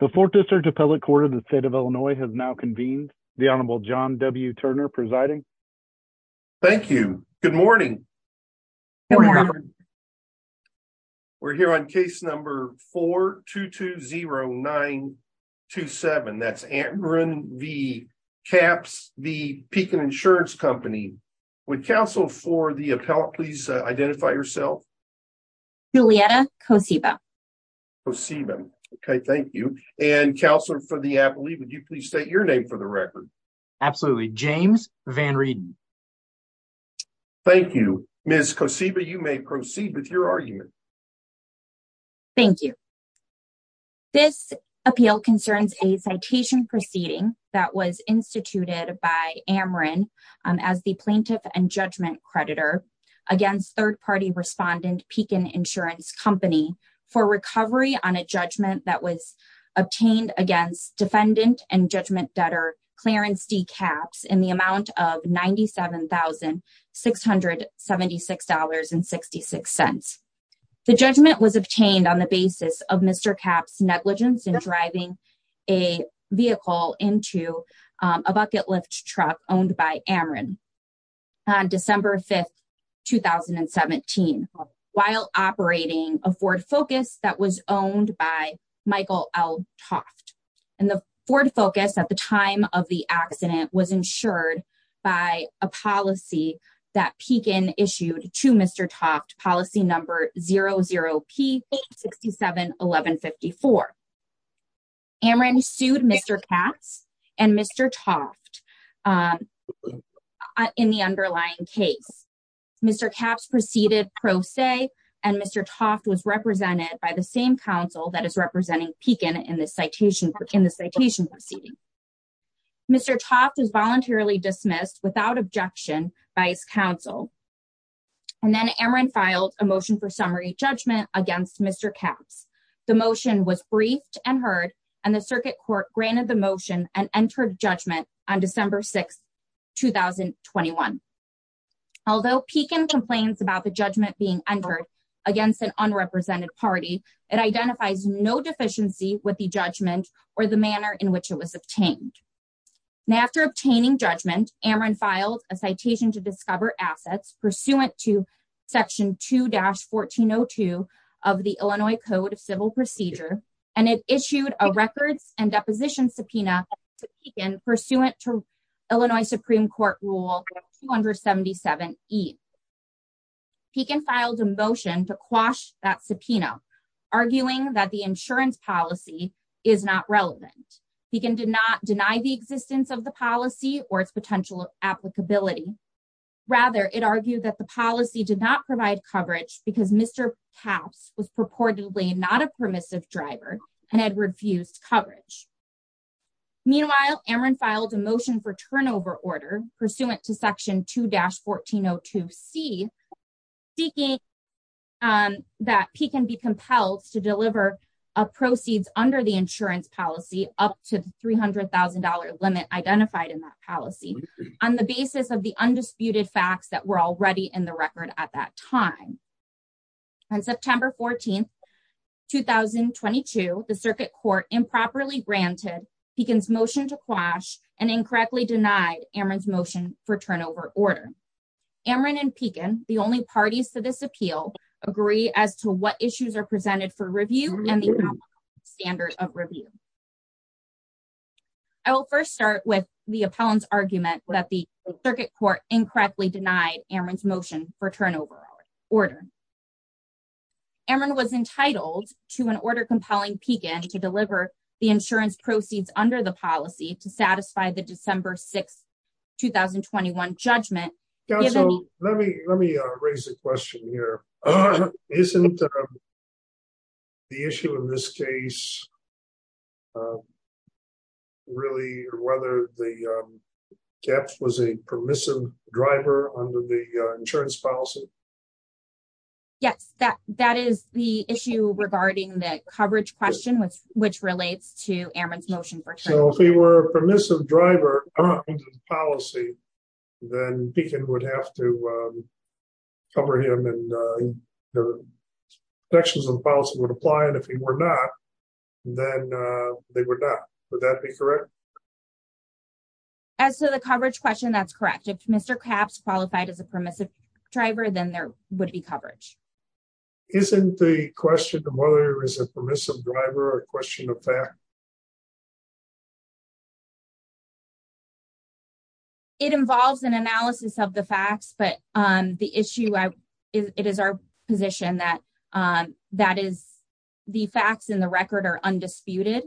The Fourth District Appellate Court of the State of Illinois has now convened. The Honorable John W. Turner presiding. Thank you. Good morning. We're here on case number 4-220-927. That's Antgren v. Capps v. Pekin Insurance Company. Would counsel for the appellate please identify yourself? Julietta Kosiba. Okay, thank you. And counsel for the appellate, would you please state your name for the record? Absolutely. James Van Reden. Thank you. Ms. Kosiba, you may proceed with your argument. Thank you. This appeal concerns a citation proceeding that was instituted by Amrin as the plaintiff and judgment creditor against third-party respondent Pekin Insurance Company for recovery on a judgment that was obtained against defendant and judgment debtor Clarence D. Capps in the amount of $97,676.66. The judgment was obtained on the basis of Mr. Capps' negligence in driving a vehicle into a bucket lift truck owned by Amrin on December 5, 2017 while operating a Ford Focus that was owned by Michael L. Toft. And the Ford Focus at the time of the accident was insured by a policy that Pekin issued to Mr. Toft, policy number 00P-67-1154. Amrin sued Mr. Capps and Mr. Toft in the underlying case. Mr. Capps proceeded pro se and Mr. Toft was represented by the same counsel that is representing Pekin in the citation proceeding. Mr. Toft was voluntarily dismissed without objection by his counsel and then Amrin filed a motion for summary judgment against Mr. Capps. The motion was briefed and heard and the circuit court granted the motion and entered judgment on December 6, 2021. Although Pekin complains about the judgment being entered against an unrepresented party, it identifies no deficiency with the judgment or the manner in which it was obtained. Now after obtaining judgment, Amrin filed a citation to discover assets pursuant to section 2-1402 of the Illinois Code of Civil Procedure and it issued a records and deposition subpoena to Pekin pursuant to Illinois Supreme Court rule 277E. Pekin filed a motion to quash that subpoena arguing that the insurance policy is not relevant. Pekin did not deny the existence of the policy or its potential applicability. Rather, it argued that the policy did not provide coverage because Mr. Capps was purportedly not a permissive driver and had refused coverage. Meanwhile, Amrin filed a motion for turnover order pursuant to section 2-1402C seeking that Pekin be compelled to deliver a proceeds under the insurance policy up to the $300,000 limit identified in that policy on the basis of the undisputed facts that were already in the record at that time. On September 14, 2022, the circuit court improperly granted Pekin's motion to quash and incorrectly denied Amrin's motion for turnover order. Amrin and Pekin, the only parties to this appeal, agree as to what issues are presented for review and the standard of review. I will first start with the appellant's argument that the turnover order was entitled to an order compelling Pekin to deliver the insurance proceeds under the policy to satisfy the December 6, 2021 judgment. Let me raise a question here. Isn't the issue in this case about whether Capps was a permissive driver under the insurance policy? Yes, that is the issue regarding the coverage question which relates to Amrin's motion. So, if he were a permissive driver under the policy, then Pekin would have to cover him and protections of the policy would apply, and if he were not, then they would not. Would that be correct? As to the coverage question, that's correct. If Mr. Capps qualified as a permissive driver, then there would be coverage. Isn't the question of whether he was a permissive driver a question of fact? It involves an analysis of the facts, but it is our position that the facts in the record are undisputed,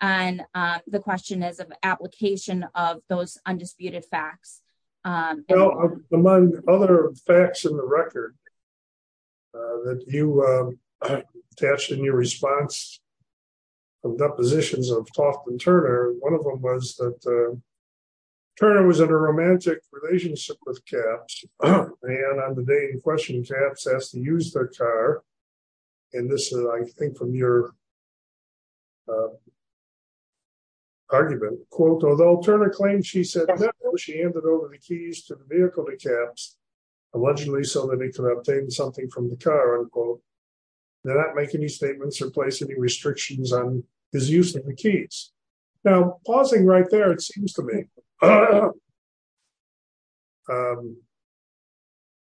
and the question is of application of those undisputed facts. Well, among other facts in the record that you attached in your response of depositions of Toft and Turner, one of them was that Turner was in a romantic relationship with Capps, and on the day in question, Capps asked to use their car, and this is, I think, from your argument, quote, although Turner claimed she said no, she handed over the keys to the vehicle to Capps, allegedly so that he could obtain something from the car, unquote, did not make any statements or place any restrictions on his use of the keys. Now, pausing right there, it seems to me,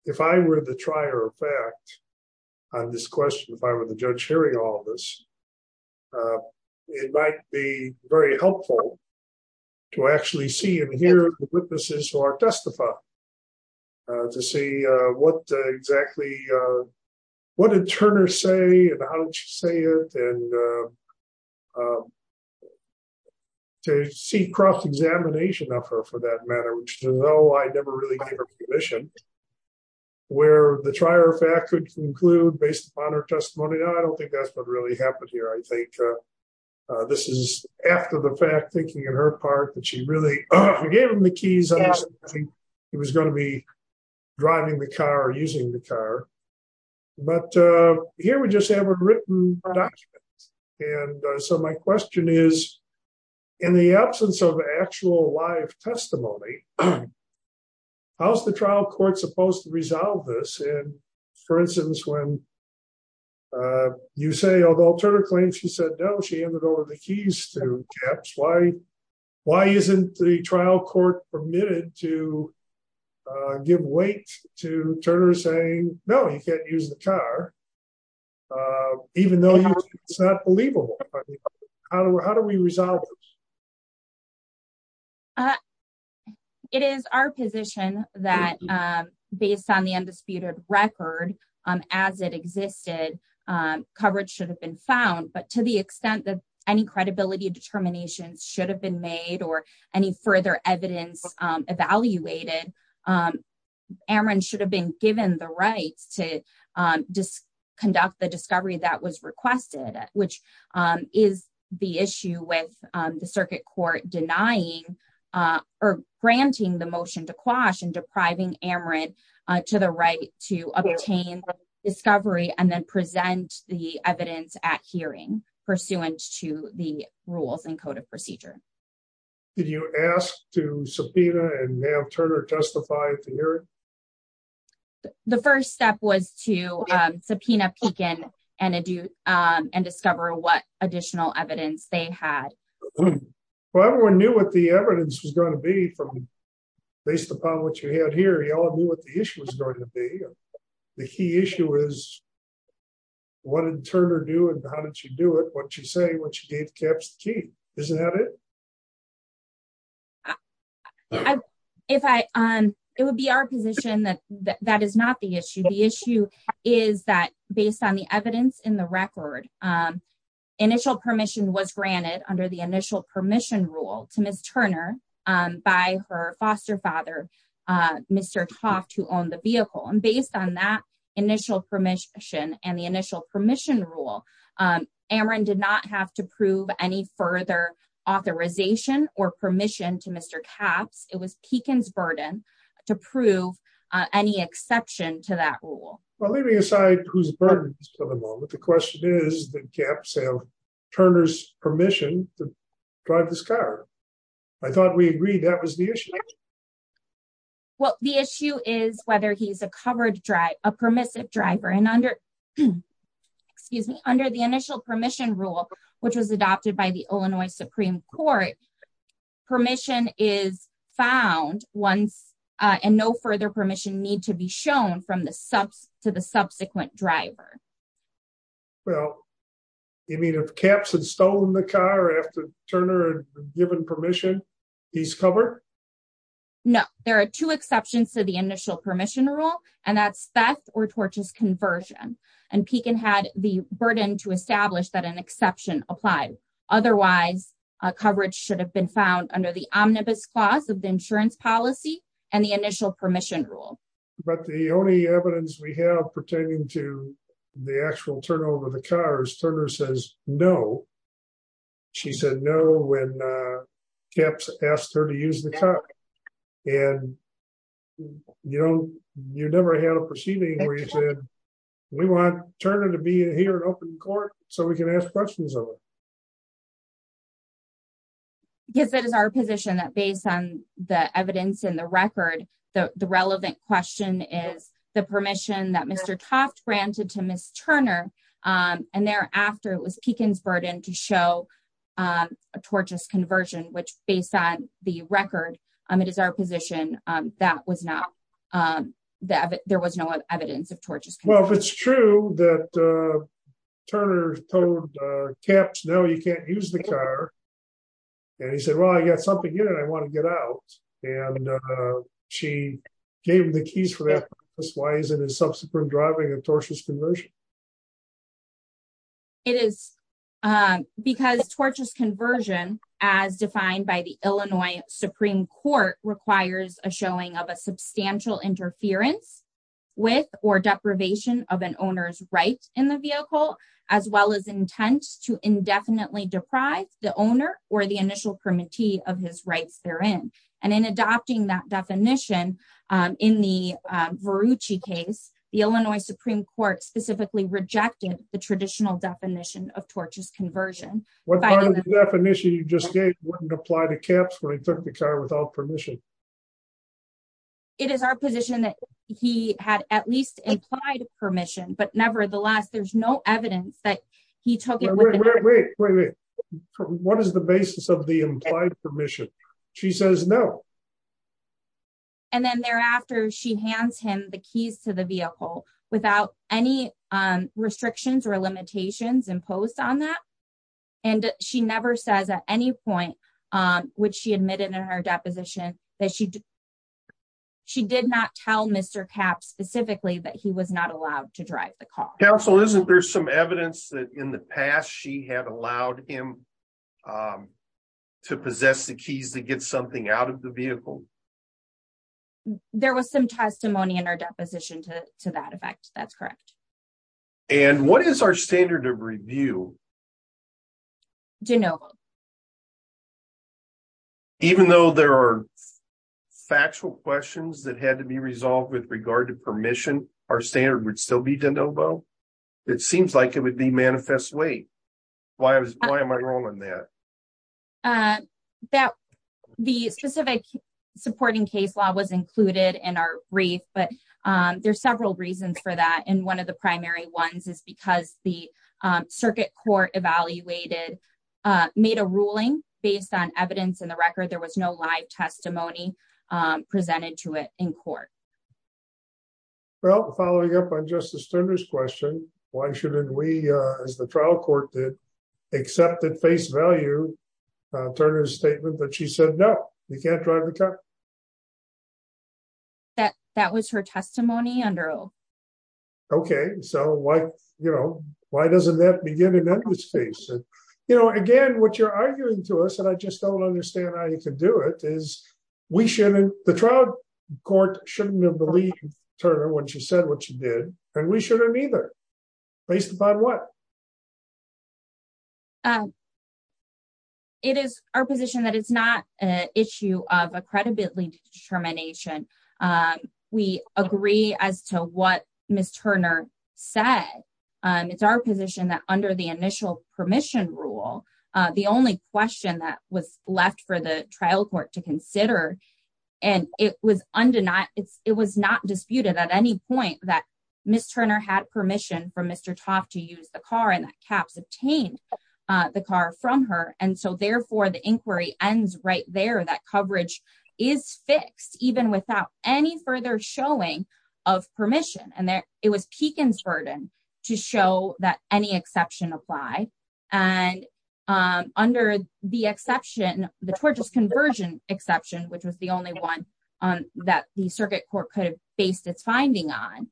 if I were the trier of fact on this question, if I were the judge hearing all of this, it might be very helpful to actually see and hear the witnesses who are testified, to see what exactly, what did Turner say, and how did she say it, and to see cross-examination of her for that matter, which is, oh, I never really gave her permission, where the trier of fact could conclude, based upon her testimony, no, I don't think that's what really happened here, I think this is after the fact, thinking on her part, that she really gave him the keys, he was going to be driving the car, using the car, but here we just have a written document, and so my question is, in the absence of actual live testimony, how's the trial court supposed to resolve this, and for instance, when you say, although Turner claims she said no, she handed over the keys to Capps, why isn't the trial court permitted to give weight to Turner saying, no, you can't use the car, even though it's not believable, how do we resolve this? It is our position that, based on the undisputed record, as it existed, coverage should have been found, but to the extent that any credibility determinations should have been made, or any further evidence evaluated, Amarant should have been given the rights to conduct the discovery that was requested, which is the issue with the circuit court denying, or granting the motion to Quash, and depriving Amarant to the right to obtain discovery, and then present the evidence at hearing, pursuant to the rules and code of procedure. Did you ask to subpoena, and have Turner testify at the hearing? The first step was to subpoena Pekin, and discover what additional evidence they had. Well, everyone knew what the evidence was going to be, based upon what you had here, everyone knew what the issue was going to be. The key issue is, what did Turner do, and how did she do it? What did she say, when she gave Caps the key? Isn't that it? It would be our position that that is not the issue. The issue is that, based on the evidence in the record, initial permission was granted under the initial permission rule to Ms. Turner by her foster father, Mr. Toft, who owned the vehicle. And based on that initial permission, and the initial permission rule, Amarant did not have to prove any further authorization, or permission to Mr. Caps. It was Pekin's burden to prove any exception to that rule. Well, leaving aside whose burden is to the moment, the question is, did Caps have agreed that was the issue? Well, the issue is whether he's a covered driver, a permissive driver. And under, excuse me, under the initial permission rule, which was adopted by the Illinois Supreme Court, permission is found once, and no further permission need to be shown to the subsequent driver. Well, you mean if Caps had stolen the car after Turner had given permission? He's covered? No. There are two exceptions to the initial permission rule, and that's theft or tortious conversion. And Pekin had the burden to establish that an exception applied. Otherwise, coverage should have been found under the omnibus clause of the insurance policy, and the initial permission rule. But the only evidence we have pertaining to the actual turnover of the cars, Turner says no. She said no when Caps asked her to use the car. And, you know, you never had a proceeding where you said, we want Turner to be here in open court so we can ask questions of him. Yes, that is our position that based on the evidence in the record, the relevant question is the permission that Mr. Toft granted to Ms. Turner, and thereafter it was Pekin's burden to show a tortious conversion, which based on the record, it is our position that there was no evidence of tortious conversion. Well, if it's true that Turner told Caps, no, you can't use the car, and he said, I got something in it, I want to get out. And she gave him the keys for that. Why is it a sub supreme driving a tortious conversion? It is because tortious conversion, as defined by the Illinois Supreme Court requires a showing of a substantial interference with or deprivation of an owner's right in the vehicle, as well as of his rights therein. And in adopting that definition, in the Verucci case, the Illinois Supreme Court specifically rejected the traditional definition of tortuous conversion. What definition you just gave wouldn't apply to Caps when he took the car without permission. It is our position that he had at least implied permission, but nevertheless, there's no evidence that he took it. Wait, what is the basis of the implied permission? She says no. And then thereafter, she hands him the keys to the vehicle without any restrictions or limitations imposed on that. And she never says at any point, which she admitted in her deposition, that she did not tell Mr. Caps specifically that he was not allowed to drive the car. Counsel, isn't there some evidence that in the past she had allowed him to possess the keys to get something out of the vehicle? There was some testimony in our deposition to that effect. That's correct. And what is our standard of review? De novo. Even though there are factual questions that had to be resolved with regard to permission, our standard would still be de novo? It seems like it would be manifest way. Why am I wrong on that? The specific supporting case law was included in our brief, but there's several reasons for that. And one of the primary ones is because the circuit court evaluated, made a ruling based on evidence in the record. There was no live testimony presented to it in court. Well, following up on Justice Turner's question, why shouldn't we, as the trial court did, accept at face value Turner's statement that she said, no, you can't drive the car? That was her testimony under oath. Okay, so why doesn't that begin and end with space? Again, what you're arguing to us, I just don't understand how you could do it, is the trial court shouldn't have believed Turner when she said what she did, and we shouldn't either. Based upon what? It is our position that it's not an issue of accredited determination. We agree as to what Ms. Turner said. It's our position that under the initial permission rule, the only question was left for the trial court to consider. And it was not disputed at any point that Ms. Turner had permission from Mr. Toff to use the car and that Capps obtained the car from her. And so therefore, the inquiry ends right there. That coverage is fixed, even without any further showing of permission. And it was Pekin's burden to show that any exception applied. And under the exception, the tortuous conversion exception, which was the only one that the circuit court could have based its finding on,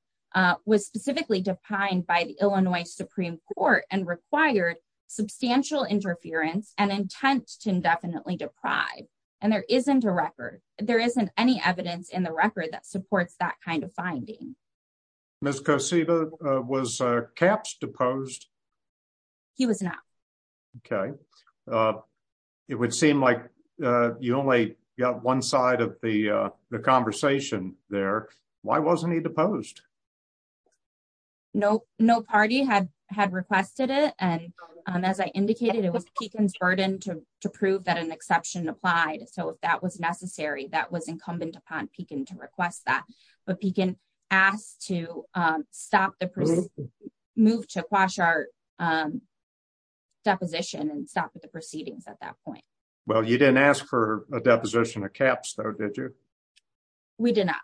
was specifically defined by the Illinois Supreme Court and required substantial interference and intent to indefinitely deprive. And there isn't a record. There isn't any evidence in the record that supports that kind of finding. Ms. Kosiba, was Capps deposed? He was not. Okay. It would seem like you only got one side of the conversation there. Why wasn't he deposed? No party had requested it. And as I indicated, it was Pekin's burden to prove that an exception applied. So if that was necessary, that was incumbent upon Pekin to request that. But Pekin asked to move to a quash our deposition and stop at the proceedings at that point. Well, you didn't ask for a deposition of Capps though, did you? We did not.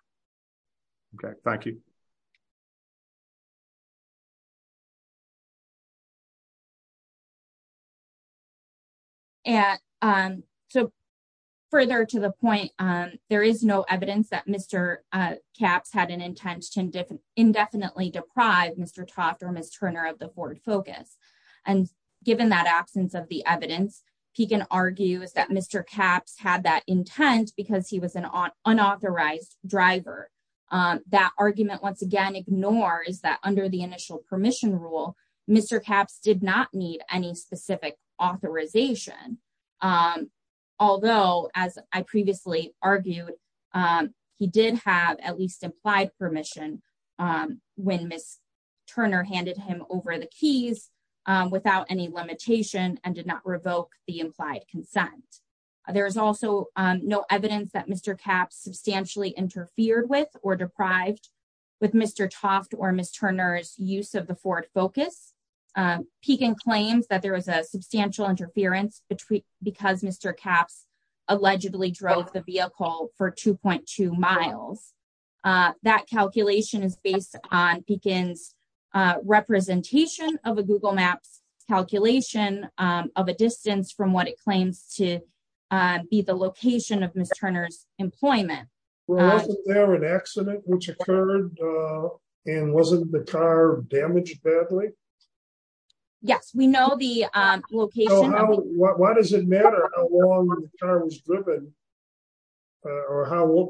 Okay. Thank you. So further to the point, there is no evidence that Mr. Capps had an intent to indefinitely deprive Mr. Toft or Ms. Turner of the board focus. And given that absence of the evidence, Pekin argues that Mr. Capps had that intent because he was an unauthorized driver. That argument, once again, ignores that under the initial permission rule, Mr. Capps did not need any specific authorization. Although, as I previously argued, he did have at least implied permission when Ms. Turner handed him over the keys without any limitation and did not revoke the implied consent. There is also no evidence that Mr. Capps substantially interfered with or deprived with Mr. Toft or Ms. Turner's use of the Ford focus. Pekin claims that there was a substantial interference because Mr. Capps allegedly drove the vehicle for 2.2 miles. That calculation is based on Pekin's representation of a Google claims to be the location of Ms. Turner's employment. Well, wasn't there an accident which occurred and wasn't the car damaged badly? Yes, we know the location. Why does it matter how long the car was driven or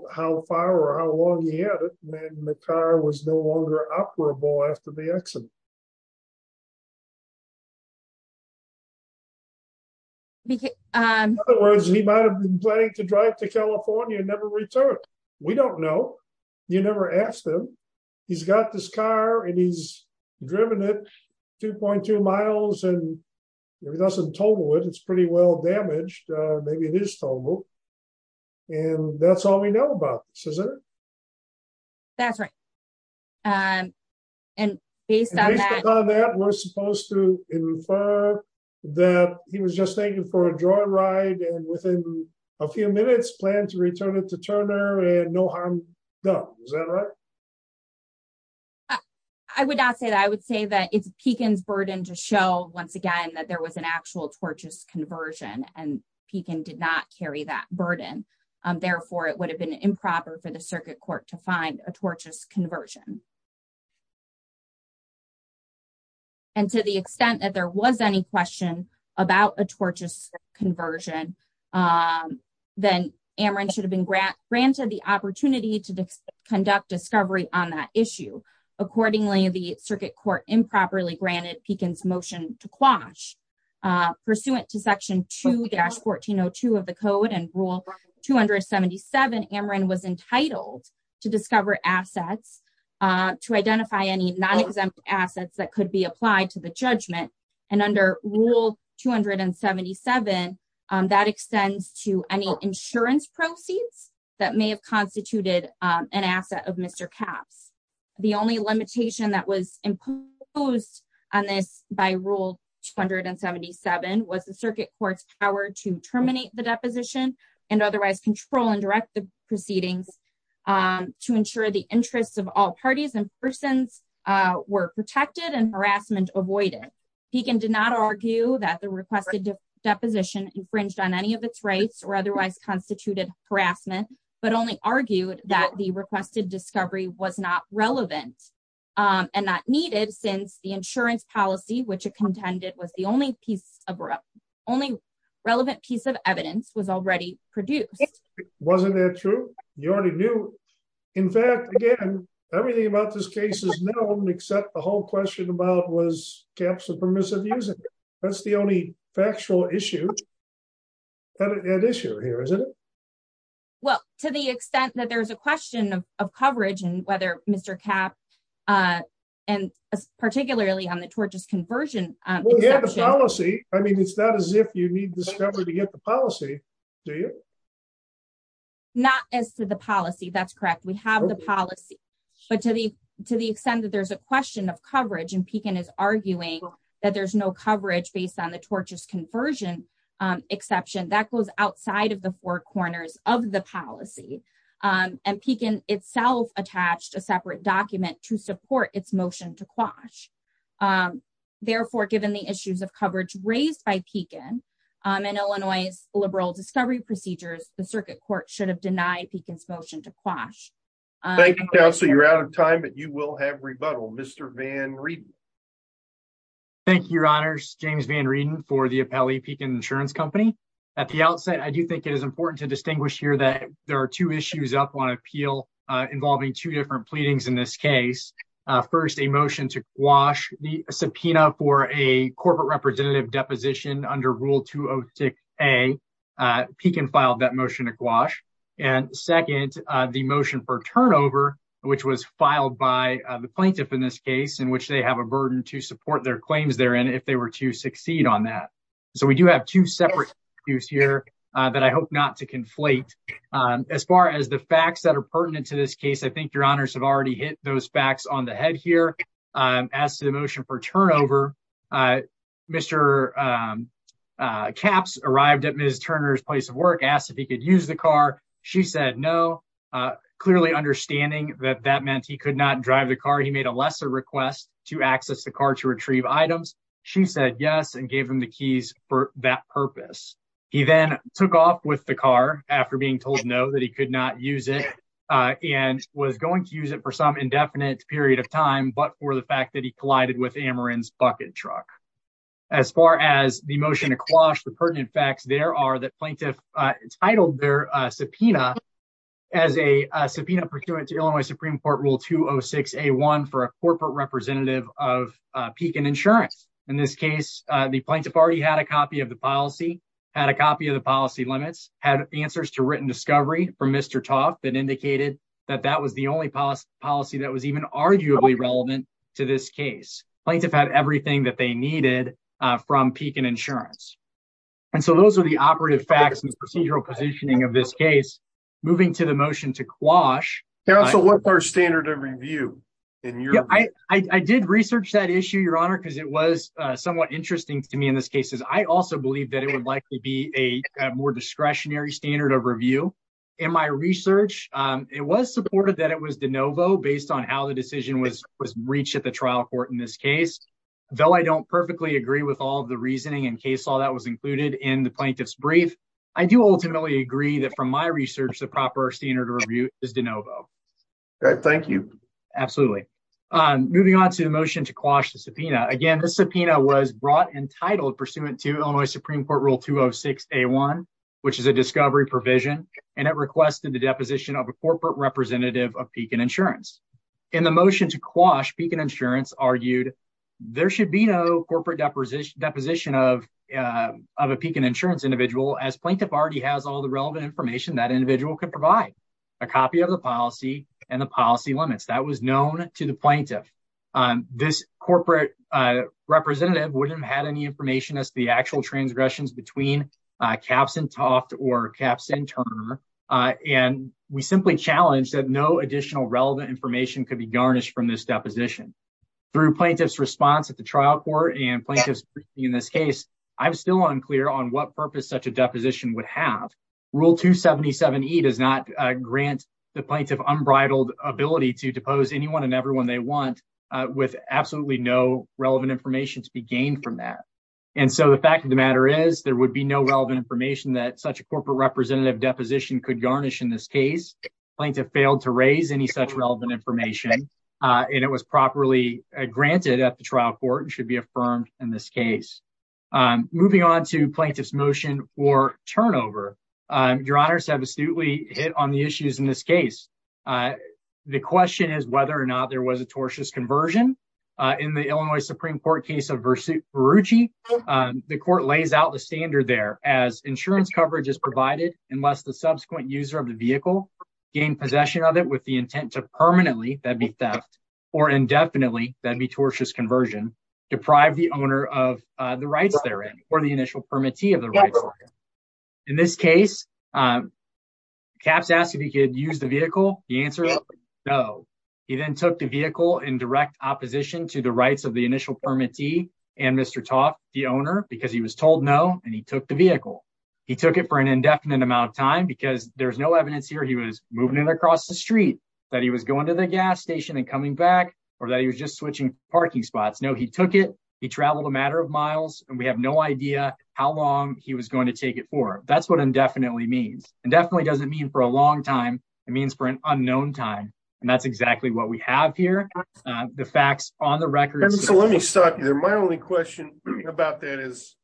how far or how long he had it when the car was no longer operable after the accident? In other words, he might have been planning to drive to California and never return. We don't know. You never asked him. He's got this car and he's driven it 2.2 miles and he doesn't total it. It's pretty well damaged. Maybe it is total. And that's all we know about this, isn't it? That's right. And based on that, we're supposed to infer that he was just thinking for a joyride and within a few minutes plan to return it to Turner and no harm done. Is that right? I would not say that. I would say that it's Pekin's burden to show once again that there was an actual torches conversion and Pekin did not carry that burden. Therefore, it would have been improper for the circuit court to find a torches conversion. And to the extent that there was any question about a torches conversion, then Ameren should have been granted the opportunity to conduct discovery on that issue. Accordingly, the circuit court improperly granted Pekin's motion to quash pursuant to section 2-1402 of the code and rule 277, Ameren was entitled to discover assets, to identify any non-exempt assets that could be applied to the judgment. And under rule 277, that extends to any insurance proceeds that may have constituted an asset of Mr. Capps. The only limitation that was imposed on this by rule 277 was the circuit court's power to terminate the deposition and otherwise control and direct the proceedings to ensure the interests of all parties and persons were protected and harassment avoided. Pekin did not argue that the requested deposition infringed on any of its rights or otherwise constituted harassment, but only argued that the requested discovery was not relevant and not needed since the insurance policy which it contended was the only piece of only relevant piece of evidence was already produced. Wasn't that true? You already knew. In fact, again, everything about this case is known except the whole question about was Capps a permissive user. That's the only factual issue. An issue here, isn't it? Well, to the extent that there's a question of coverage and whether Mr. Capps, and particularly on the torches conversion exception. I mean, it's not as if you need discovery to get the policy, do you? Not as to the policy, that's correct. We have the policy, but to the extent that there's a question of coverage and Pekin is arguing that there's coverage based on the torches conversion exception, that goes outside of the four corners of the policy. And Pekin itself attached a separate document to support its motion to quash. Therefore, given the issues of coverage raised by Pekin and Illinois liberal discovery procedures, the circuit court should have denied Pekin's motion to quash. Thank you, counsel. You're reading for the appellee Pekin insurance company. At the outset, I do think it is important to distinguish here that there are two issues up on appeal involving two different pleadings in this case. First, a motion to wash the subpoena for a corporate representative deposition under rule a Pekin filed that motion to quash. And second, the motion for turnover, which was filed by the plaintiff in this case, in which they have a burden to support their claims if they were to succeed on that. So we do have two separate issues here that I hope not to conflate. As far as the facts that are pertinent to this case, I think your honors have already hit those facts on the head here. As to the motion for turnover, Mr. Capps arrived at Ms. Turner's place of work, asked if he could use the car. She said no, clearly understanding that that meant he not drive the car. He made a lesser request to access the car to retrieve items. She said yes, and gave him the keys for that purpose. He then took off with the car after being told no, that he could not use it and was going to use it for some indefinite period of time, but for the fact that he collided with Ameren's bucket truck. As far as the motion to quash the pertinent facts, there are that plaintiff titled their subpoena as a subpoena pursuant to Illinois Supreme Court Rule 206A1 for a corporate representative of Pekin Insurance. In this case, the plaintiff already had a copy of the policy, had a copy of the policy limits, had answers to written discovery from Mr. Tuff that indicated that that was the only policy that was even arguably relevant to this case. Plaintiff had everything that they needed from Pekin Insurance. And so those are the operative facts and procedural positioning of this case. Moving to the motion to quash. So what's our standard of review? I did research that issue, Your Honor, because it was somewhat interesting to me in this case. I also believe that it would likely be a more discretionary standard of review. In my research, it was supported that it was de novo based on how the decision was reached at the trial court in this case. Though I don't perfectly agree with all of the reasoning and case law that was included in the plaintiff's brief, I do ultimately agree that from my research, the proper standard of review is de novo. Thank you. Absolutely. Moving on to the motion to quash the subpoena. Again, this subpoena was brought and titled pursuant to Illinois Supreme Court Rule 206A1, which is a discovery provision, and it requested the deposition of a corporate representative of Pekin Insurance. In the motion to quash, Pekin Insurance argued there should be no corporate deposition of a Pekin Insurance individual, as plaintiff already has all the relevant information that individual could provide, a copy of the policy and the policy limits. That was known to the plaintiff. This corporate representative wouldn't have had any information as to the actual transgressions between Kapsin Toft or Kapsin Turner, and we simply challenged that no additional relevant information could be garnished from this deposition. Through plaintiff's response at the trial court and in this case, I'm still unclear on what purpose such a deposition would have. Rule 277E does not grant the plaintiff unbridled ability to depose anyone and everyone they want with absolutely no relevant information to be gained from that. And so the fact of the matter is there would be no relevant information that such a corporate representative deposition could garnish in this case. Plaintiff failed to raise any such relevant information, and it was properly granted at the case. Moving on to plaintiff's motion for turnover. Your honors have astutely hit on the issues in this case. The question is whether or not there was a tortious conversion. In the Illinois Supreme Court case of Verrucci, the court lays out the standard there as insurance coverage is provided unless the subsequent user of the vehicle gained possession of it with the intent to permanently, that'd be theft, or indefinitely, that'd be tortious conversion, deprive the owner of the rights therein or the initial permittee of the rights therein. In this case, Capps asked if he could use the vehicle. The answer is no. He then took the vehicle in direct opposition to the rights of the initial permittee and Mr. Toth, the owner, because he was told no and he took the vehicle. He took it for an indefinite amount of time because there's no evidence here he was moving it across the street, that he was going to the gas station and coming back, or that he was just switching parking spots. No, he took it, he traveled a matter of miles, and we have no idea how long he was going to take it for. That's what indefinitely means. Indefinitely doesn't mean for a long time. It means for an unknown time, and that's exactly what we have here. The facts on the record... So let me stop you there. My only question about that is,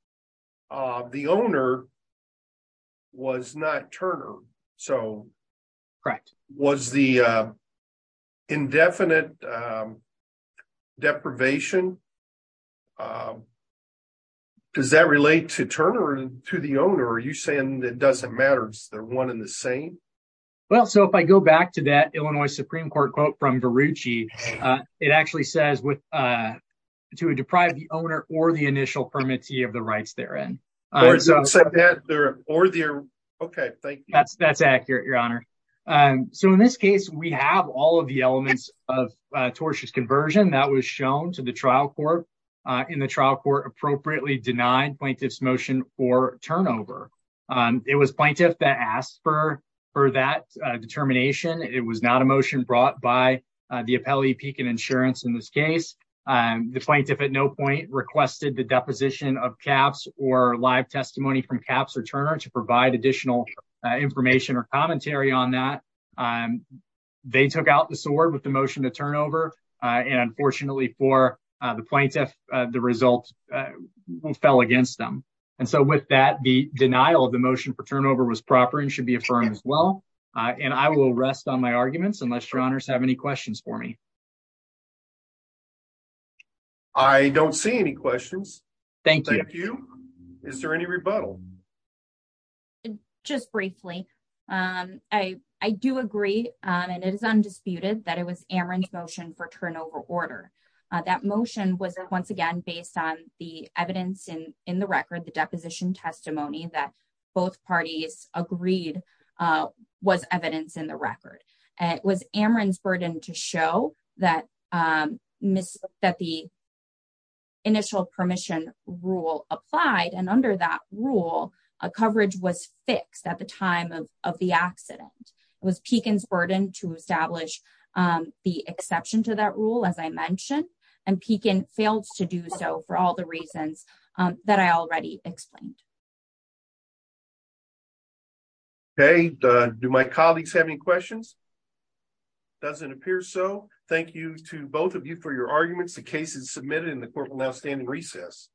the owner was not Turner, so was the indefinite deprivation... Does that relate to Turner or to the owner? Are you saying it doesn't matter? Is there one and the same? Well, so if I go back to that Illinois Supreme Court quote from Verrucci, it actually says to deprive the owner or the initial permittee of the rights therein. Okay, thank you. That's accurate, Your Honor. So in this case, we have all of the elements of tortious conversion that was shown to the trial court, and the trial court appropriately denied plaintiff's motion for turnover. It was plaintiff that asked for that determination. It was not a motion brought by the Appellee, Peek, and Insurance in this case. The plaintiff at no point requested the deposition of Capps or live testimony from Capps or Turner to provide additional information or commentary on that. They took out the sword with the motion to turn over, and unfortunately for the plaintiff, the result fell against them. And so with that, the denial of the motion for turnover was proper and should be affirmed as well. And I will rest on my arguments unless Your Honors have any questions for me. I don't see any questions. Thank you. Is there any rebuttal? Just briefly, I do agree, and it is undisputed that it was Amron's motion for turnover order. That motion was once again based on the evidence in the record, the deposition testimony that both parties agreed was evidence in the record. It was Amron's burden to show that the initial permission rule applied, and under that rule, coverage was fixed at the time of the accident. It was Peekin's burden to establish the exception to that rule, as I mentioned, and Peekin failed to do so for all the reasons that I already explained. Okay. Do my colleagues have any questions? Doesn't appear so. Thank you to both of you for your arguments. The case is submitted, and the court will now stand in recess.